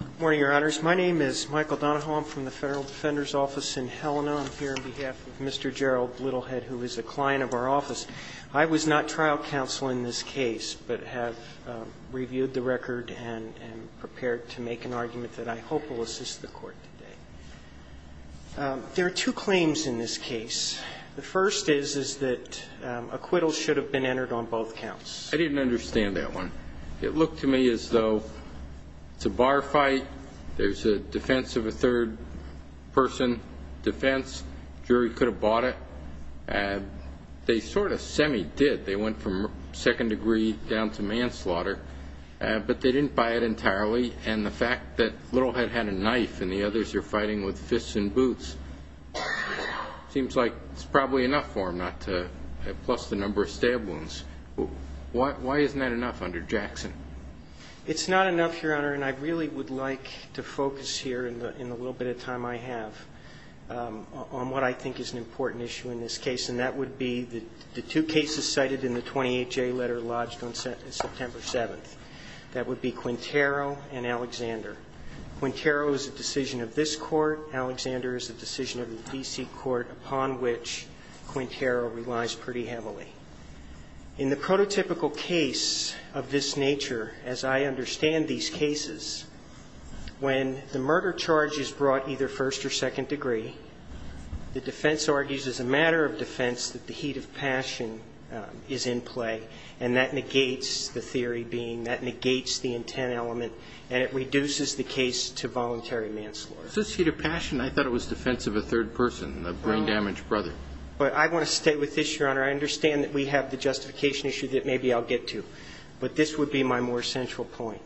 Good morning, Your Honors. My name is Michael Donahoe. I'm from the Federal Defender's Office in Helena. I'm here on behalf of Mr. Gerald Littlehead, who is a client of our office. I was not trial counsel in this case, but have reviewed the record and am prepared to make an argument that I hope will assist the Court today. There are two claims in this case. The first is, is that acquittal should have been entered on both counts. I didn't understand that one. It looked to me as though it's a bar fight, there's a defense of a third person defense, jury could have bought it. They sort of semi-did. They went from second degree down to manslaughter, but they didn't buy it entirely. And the fact that Littlehead had a knife and the others are fighting with fists and boots seems like it's probably enough for him, plus the number of stab wounds. Why isn't that enough under Jackson? It's not enough, Your Honor, and I really would like to focus here in the little bit of time I have on what I think is an important issue in this case, and that would be the two cases cited in the 28J letter lodged on September 7th. That would be Quintero and Alexander. Quintero is a decision of this Court, Alexander is a decision of the D.C. Court, upon which Quintero relies pretty heavily. In the prototypical case of this nature, as I understand these cases, when the murder charge is brought either first or second degree, the defense argues as a matter of defense that the heat of passion is in play, and that negates the theory being, that negates the intent element, and it reduces the case to voluntary manslaughter. Since heat of passion, I thought it was defense of a third person, a brain-damaged brother. But I want to stay with this, Your Honor. I understand that we have the justification issue that maybe I'll get to, but this would be my more central point.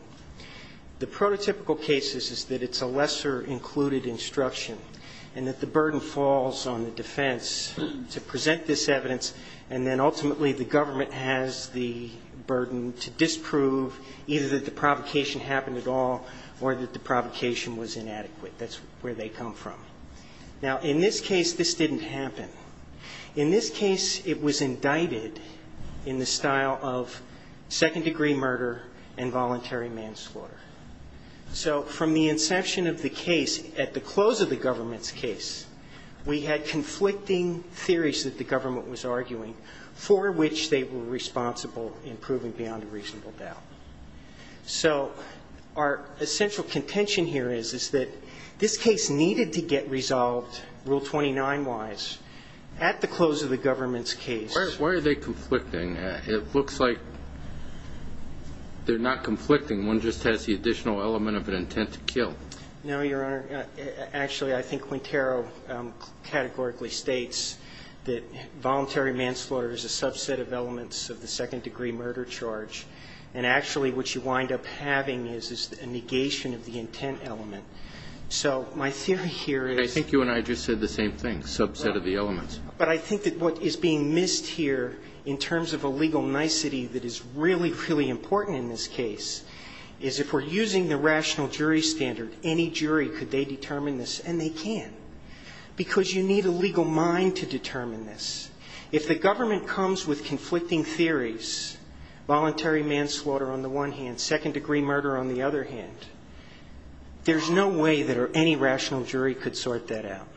The prototypical cases is that it's a lesser included instruction and that the burden falls on the defense to present this evidence, and then ultimately the government has the burden to disprove either that the provocation happened at all or that the provocation was inadequate. That's where they come from. Now, in this case, this didn't happen. In this case, it was indicted in the style of second degree murder and voluntary manslaughter. So from the inception of the case, at the close of the government's case, we had conflicting theories that the government was arguing, for which they were responsible in proving beyond a reasonable doubt. So our essential contention here is, is that this case needed to get resolved, Rule 29-wise, at the close of the government's case. Why are they conflicting? It looks like they're not conflicting. One just has the additional element of an intent to kill. No, Your Honor. Actually, I think Quintero categorically states that voluntary manslaughter is a subset of elements of the second degree murder charge, and actually what you wind up having is a negation of the intent element. So my theory here is you and I just said the same thing, subset of the elements. But I think that what is being missed here, in terms of a legal nicety that is really, really important in this case, is if we're using the rational jury standard, any jury could they determine this, and they can, because you need a legal mind to determine this. If the government comes with conflicting theories, voluntary manslaughter on the one hand, second degree murder on the other hand, there's no way that any rational jury could sort that out.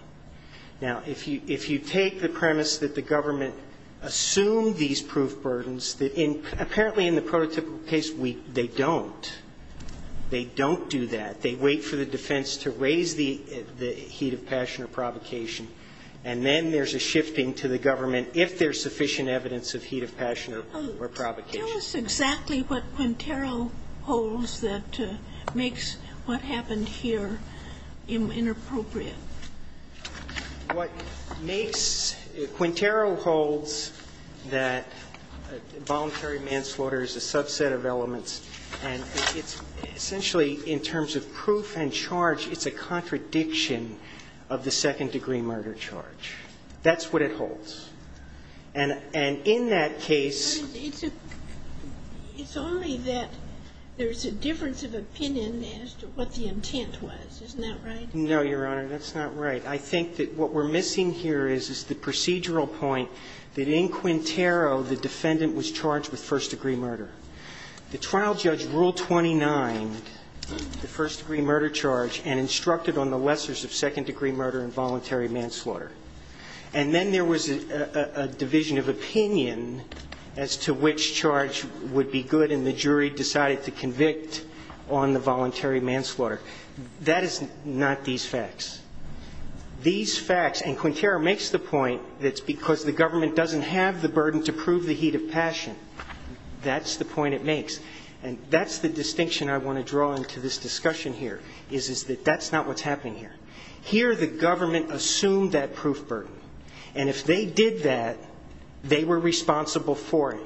Now, if you take the premise that the government assumed these proof burdens, apparently in the prototypical case they don't. They don't do that. They wait for the defense to raise the heat of passion or provocation, and then there's a shifting to the government if there's sufficient evidence of heat of passion or provocation. Tell us exactly what Quintero holds that makes what happened here inappropriate. What makes Quintero holds that voluntary manslaughter is a subset of elements, and it's essentially in terms of proof and charge, it's a contradiction of the second degree murder charge. That's what it holds. And in that case It's only that there's a difference of opinion as to what the intent was, isn't that right? No, Your Honor, that's not right. I think that what we're missing here is the procedural point that in Quintero the defendant was charged with first degree murder. The trial judge ruled 29, the first degree murder charge, and instructed on the lessors of second degree murder and voluntary manslaughter. And then there was a division of opinion as to which charge would be good, and the jury decided to convict on the voluntary manslaughter. That is not these facts. These facts, and Quintero makes the point that it's because the government doesn't have the burden to prove the heat of passion. That's the point it makes. And that's the distinction I want to draw into this discussion here, is that that's not what's happening here. Here the government assumed that proof burden. And if they did that, they were responsible for it.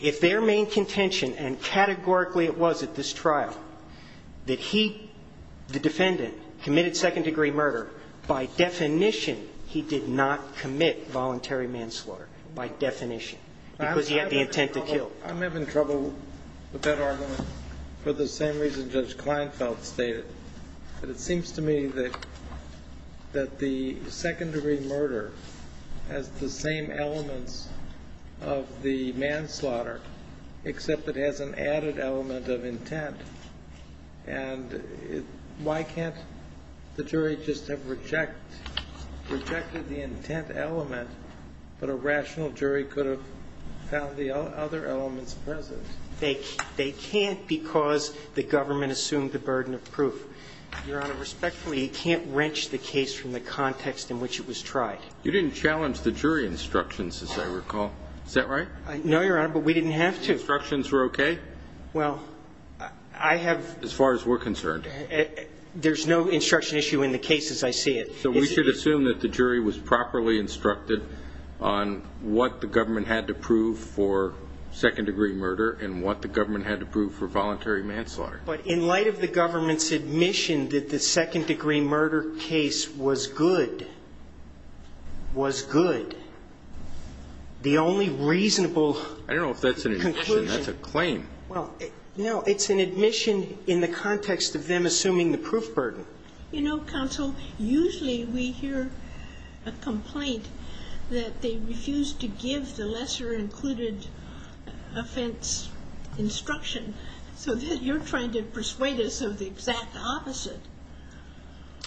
If their main contention, and categorically it was at this trial, that he, the defendant, committed second degree murder, by definition he did not commit voluntary manslaughter, by definition, because he had the intent to kill. I'm having trouble with that argument for the same reason Judge Kleinfeld stated. But it seems to me that the second degree murder has the same elements of the manslaughter, except it has an added element of intent. And why can't the jury just have rejected the intent element, but a rational jury could have found the other elements present? They can't because the government assumed the burden of proof. Your Honor, respectfully, you can't wrench the case from the context in which it was tried. You didn't challenge the jury instructions, as I recall. Is that right? No, Your Honor, but we didn't have to. The instructions were okay? Well, I have – As far as we're concerned. There's no instruction issue in the case as I see it. So we should assume that the jury was properly instructed on what the government had to prove for second degree murder and what the government had to prove for voluntary manslaughter. But in light of the government's admission that the second degree murder case was good, was good, the only reasonable conclusion – I don't know if that's an admission. That's a claim. Well, no, it's an admission in the context of them assuming the proof burden. You know, counsel, usually we hear a complaint that they refuse to give the lesser included offense instruction so that you're trying to persuade us of the exact opposite.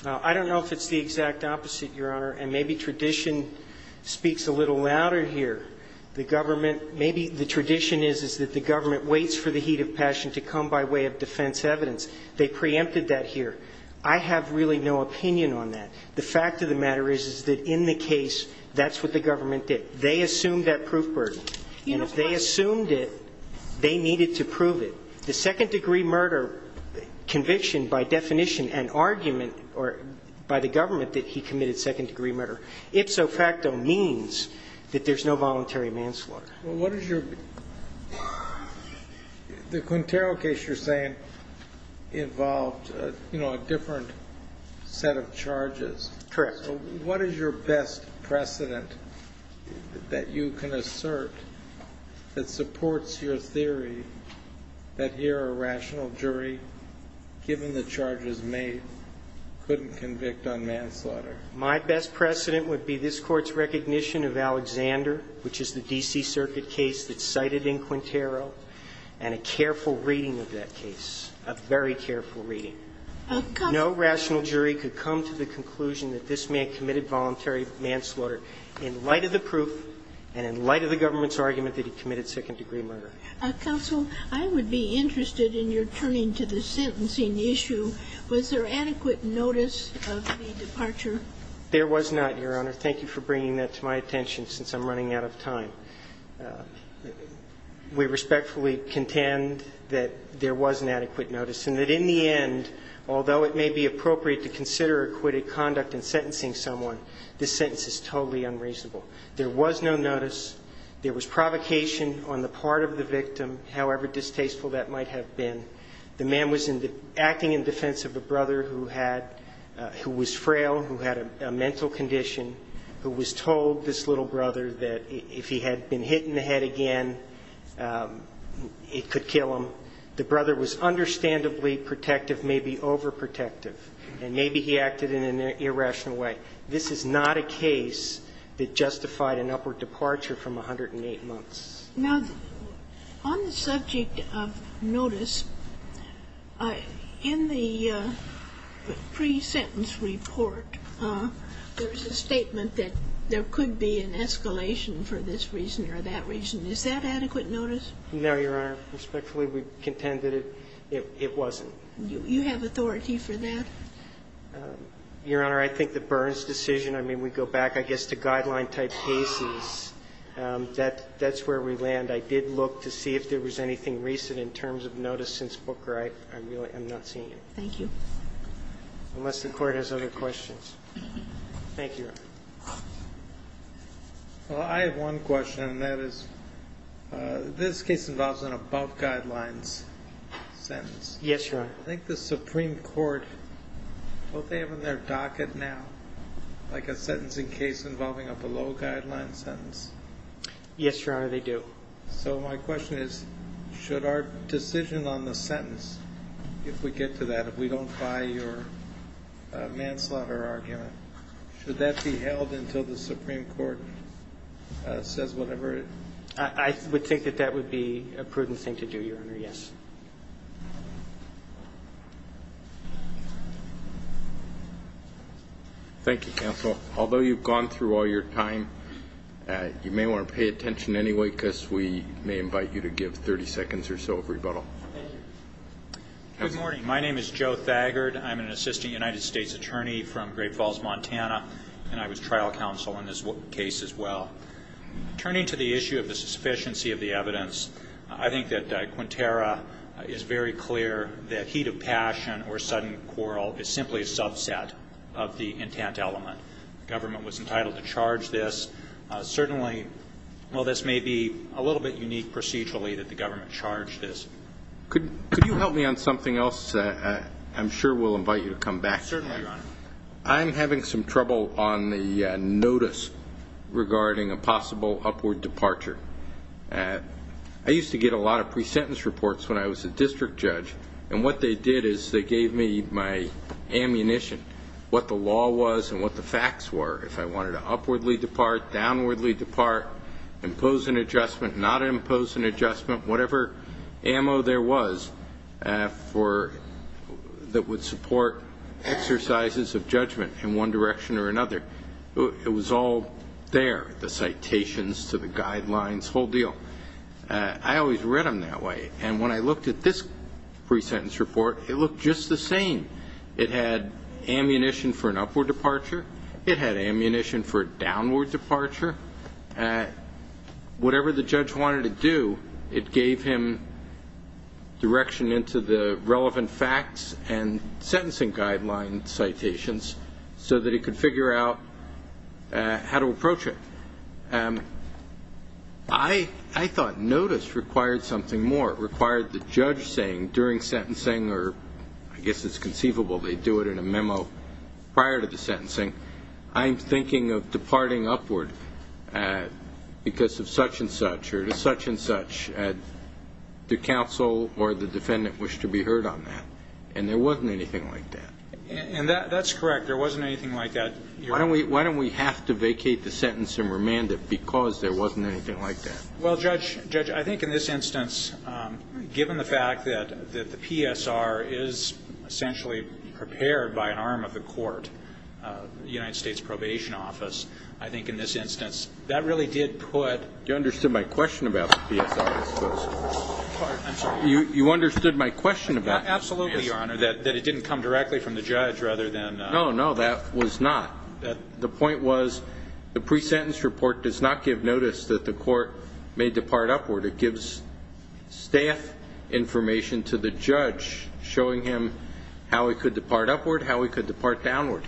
I don't know if it's the exact opposite, Your Honor, and maybe tradition speaks a little louder here. The government – maybe the tradition is that the government waits for the heat of passion to come by way of defense evidence. They preempted that here. I have really no opinion on that. The fact of the matter is, is that in the case, that's what the government did. They assumed that proof burden. And if they assumed it, they needed to prove it. The second degree murder conviction by definition and argument by the government that he committed second degree murder, ipso facto means that there's no voluntary manslaughter. Well, what is your – the Quintero case you're saying involved, you know, a different set of charges. Correct. So what is your best precedent that you can assert that supports your theory that here a rational jury, given the charges made, couldn't convict on manslaughter? My best precedent would be this Court's recognition of Alexander, which is the D.C. Circuit case that's cited in Quintero, and a careful reading of that case, a very careful reading. No rational jury could come to the conclusion that this man committed voluntary manslaughter in light of the proof and in light of the government's argument that he committed second degree murder. Counsel, I would be interested in your turning to the sentencing issue. Was there adequate notice of the departure? There was not, Your Honor. Thank you for bringing that to my attention, since I'm running out of time. We respectfully contend that there was an adequate notice and that in the end, although it may be appropriate to consider acquitted conduct in sentencing someone, this sentence is totally unreasonable. There was no notice. There was provocation on the part of the victim, however distasteful that might have been. The man was acting in defense of a brother who had – who was frail, who had a mental condition, who was told, this little brother, that if he had been hit in the head again, it could kill him. The brother was understandably protective, maybe overprotective. And maybe he acted in an irrational way. This is not a case that justified an upward departure from 108 months. Now, on the subject of notice, in the pre-sentence report, there's a statement that there could be an escalation for this reason or that reason. Is that adequate notice? No, Your Honor. Respectfully, we contend that it wasn't. You have authority for that? Your Honor, I think the Burns decision, I mean, we go back, I guess, to guideline type cases. That's where we land. I did look to see if there was anything recent in terms of notice since Booker. I really am not seeing it. Thank you. Unless the Court has other questions. Thank you, Your Honor. Well, I have one question, and that is, this case involves an above guidelines sentence. Yes, Your Honor. I think the Supreme Court, what they have on their docket now, like a sentencing case involving a below guideline sentence. Yes, Your Honor, they do. So my question is, should our decision on the sentence, if we get to that, if we don't buy your manslaughter argument, should that be held until the Supreme Court says whatever it? I would think that that would be a prudent thing to do, Your Honor, yes. Thank you, counsel. Although you've gone through all your time, you may want to pay attention anyway, because we may invite you to give 30 seconds or so of rebuttal. Thank you. Good morning. My name is Joe Thagard. I'm an assistant United States attorney from Great Falls, Montana, and I was trial counsel in this case as well. Turning to the issue of the sufficiency of the evidence, I think that Quintero is very clear that heat of passion or sudden quarrel is simply a subset of the intent element. The government was entitled to charge this. Certainly, while this may be a little bit unique procedurally that the government charged this. Could you help me on something else? I'm sure we'll invite you to come back. Certainly, Your Honor. I'm having some trouble on the notice regarding a possible upward departure. I used to get a lot of pre-sentence reports when I was a district judge, and what they did is they gave me my ammunition, what the law was and what the facts were. If I wanted to upwardly depart, downwardly depart, impose an adjustment, not impose an adjustment, whatever ammo there was that would support exercises of judgment in one direction or another. It was all there, the citations to the guidelines, whole deal. I always read them that way. And when I looked at this pre-sentence report, it looked just the same. It had ammunition for an upward departure. It had ammunition for a downward departure. Whatever the judge wanted to do, it gave him direction into the relevant facts and sentencing guideline citations so that he could figure out how to approach it. I thought notice required something more. It required the judge saying during sentencing, or I guess it's conceivable they do it in a memo prior to the sentencing, I'm thinking of departing upward because of such and such or to such and such. The counsel or the defendant wished to be heard on that, and there wasn't anything like that. And that's correct. There wasn't anything like that. Why don't we have to vacate the sentence and remand it? Because there wasn't anything like that. Well, Judge, I think in this instance, given the fact that the PSR is essentially prepared by an arm of the court, the United States Probation Office, I think in this instance that really did put. You understood my question about the PSR, I suppose. I'm sorry. You understood my question about the PSR. Absolutely, Your Honor, that it didn't come directly from the judge rather than. No, no, that was not. The point was the pre-sentence report does not give notice that the court may depart upward. It gives staff information to the judge showing him how he could depart upward, how he could depart downward.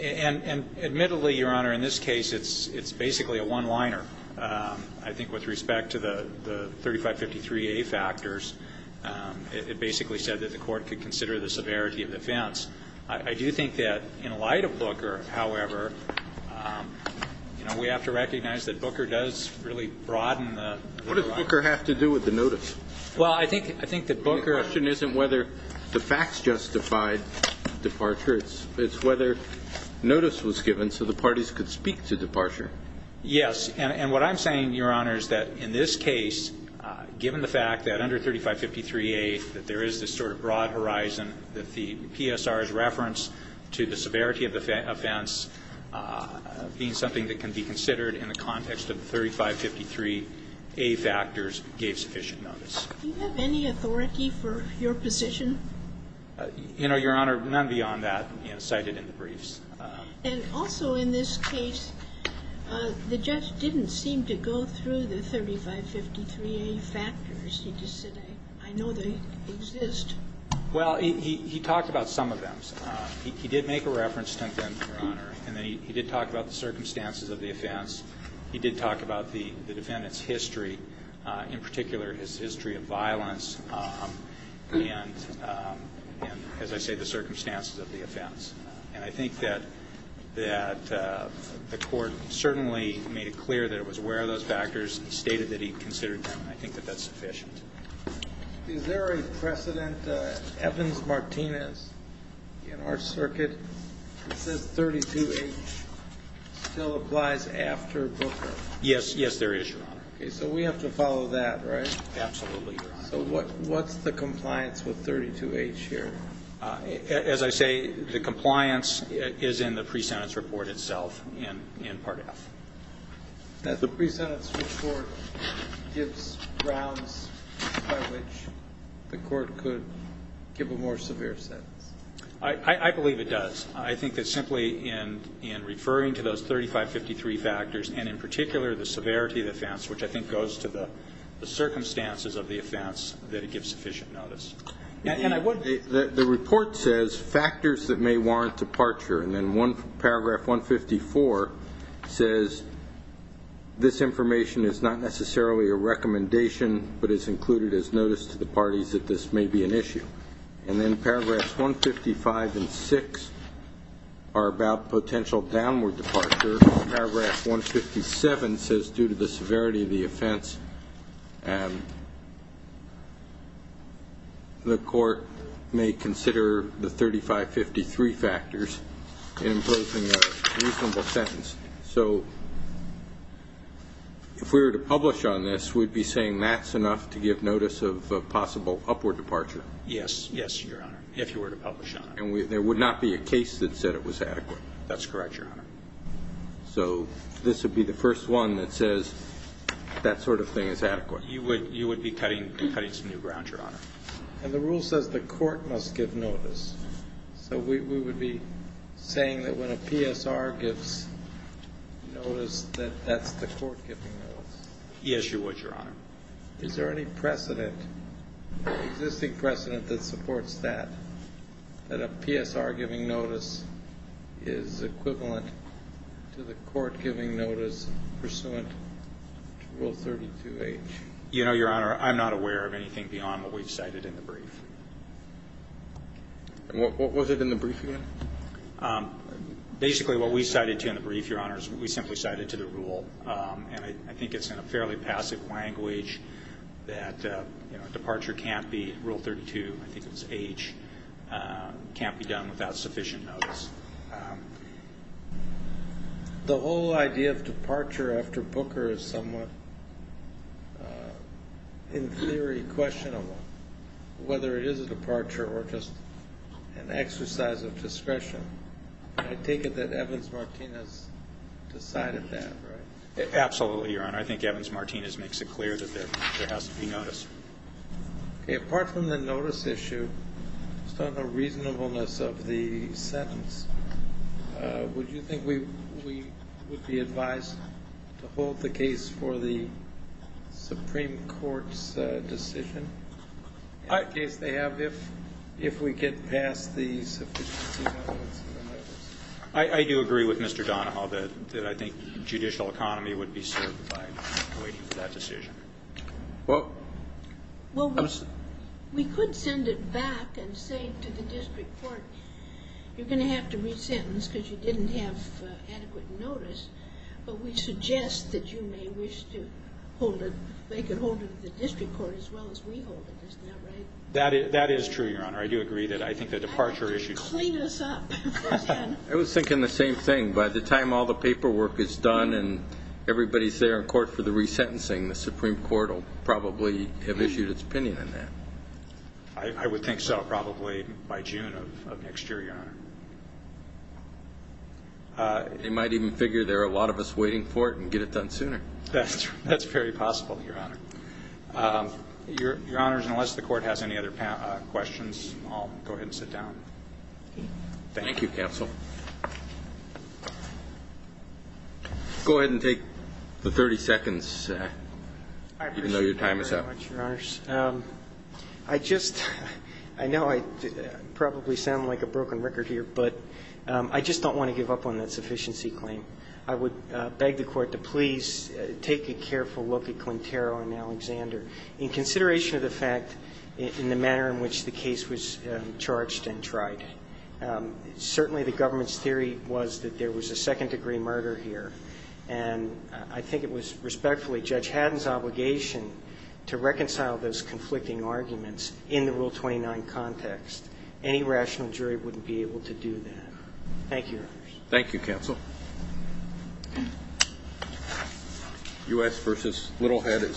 And admittedly, Your Honor, in this case it's basically a one-liner. I think with respect to the 3553A factors, it basically said that the court could consider the severity of the offense. I do think that in light of Booker, however, we have to recognize that Booker does really broaden the horizon. What does Booker have to do with the notice? Well, I think that Booker. The question isn't whether the facts justified departure. It's whether notice was given so the parties could speak to departure. Yes, and what I'm saying, Your Honor, is that in this case, given the fact that under 3553A that there is this sort of broad horizon that the PSR's reference to the severity of the offense being something that can be considered in the context of the 3553A factors gave sufficient notice. Do you have any authority for your position? You know, Your Honor, none beyond that cited in the briefs. And also in this case, the judge didn't seem to go through the 3553A factors. He just said, I know they exist. Well, he talked about some of them. He did make a reference to them, Your Honor, and he did talk about the circumstances of the offense. He did talk about the defendant's history, in particular his history of violence and, as I say, the circumstances of the offense. And I think that the Court certainly made it clear that it was aware of those factors. He stated that he considered them, and I think that that's sufficient. Is there a precedent, Evans-Martinez, in our circuit that says 32H still applies after Booker? Yes. Yes, there is, Your Honor. Okay. So we have to follow that, right? Absolutely, Your Honor. So what's the compliance with 32H here? As I say, the compliance is in the pre-sentence report itself in Part F. The pre-sentence report gives grounds by which the Court could give a more severe sentence. I believe it does. I think that simply in referring to those 3553 factors and in particular the severity of the offense, which I think goes to the circumstances of the offense, that it gives sufficient notice. The report says factors that may warrant departure, and then Paragraph 154 says this information is not necessarily a recommendation but is included as notice to the parties that this may be an issue. And then Paragraphs 155 and 6 are about potential downward departure. Paragraph 157 says due to the severity of the offense, the Court may consider the 3553 factors in approving a reasonable sentence. So if we were to publish on this, we'd be saying that's enough to give notice of possible upward departure. Yes. Yes, Your Honor, if you were to publish on it. And there would not be a case that said it was adequate. That's correct, Your Honor. So this would be the first one that says that sort of thing is adequate. You would be cutting some new ground, Your Honor. And the rule says the Court must give notice. So we would be saying that when a PSR gives notice, that that's the Court giving notice. Yes, Your Honor. Is there any precedent, existing precedent, that supports that, that a PSR giving notice is equivalent to the Court giving notice pursuant to Rule 32H? You know, Your Honor, I'm not aware of anything beyond what we've cited in the brief. What was it in the brief again? Basically what we cited to in the brief, Your Honor, is we simply cited to the rule. And I think it's in a fairly passive language that departure can't be, Rule 32, I think it's H, can't be done without sufficient notice. The whole idea of departure after Booker is somewhat, in theory, questionable, whether it is a departure or just an exercise of discretion. I take it that Evans-Martinez decided that, right? Absolutely, Your Honor. I think Evans-Martinez makes it clear that there has to be notice. Okay. Apart from the notice issue, just on the reasonableness of the sentence, would you think we would be advised to hold the case for the Supreme Court's decision? In the case they have, if we get past the sufficiency of evidence in the notice. I do agree with Mr. Donahoe that I think judicial economy would be served by waiting for that decision. Well, we could send it back and say to the district court, you're going to have to re-sentence because you didn't have adequate notice, but we suggest that you may wish to make it hold to the district court as well as we hold it. Isn't that right? That is true, Your Honor. I do agree that I think the departure issue. Clean us up. I was thinking the same thing. By the time all the paperwork is done and everybody is there in court for the re-sentencing, the Supreme Court will probably have issued its opinion on that. I would think so, probably by June of next year, Your Honor. They might even figure there are a lot of us waiting for it and get it done sooner. That's very possible, Your Honor. Your Honors, unless the court has any other questions, I'll go ahead and sit down. Thank you. Thank you, counsel. Go ahead and take the 30 seconds, even though your time is up. I appreciate that very much, Your Honors. I just, I know I probably sound like a broken record here, but I just don't want to give up on that sufficiency claim. I would beg the court to please take a careful look at Quintero and Alexander in consideration of the fact in the manner in which the case was charged and tried. Certainly the government's theory was that there was a second-degree murder here, and I think it was respectfully Judge Haddon's obligation to reconcile those conflicting arguments in the Rule 29 context. Any rational jury wouldn't be able to do that. Thank you, Your Honors. Thank you, counsel. U.S. v. Littlehead is submitted.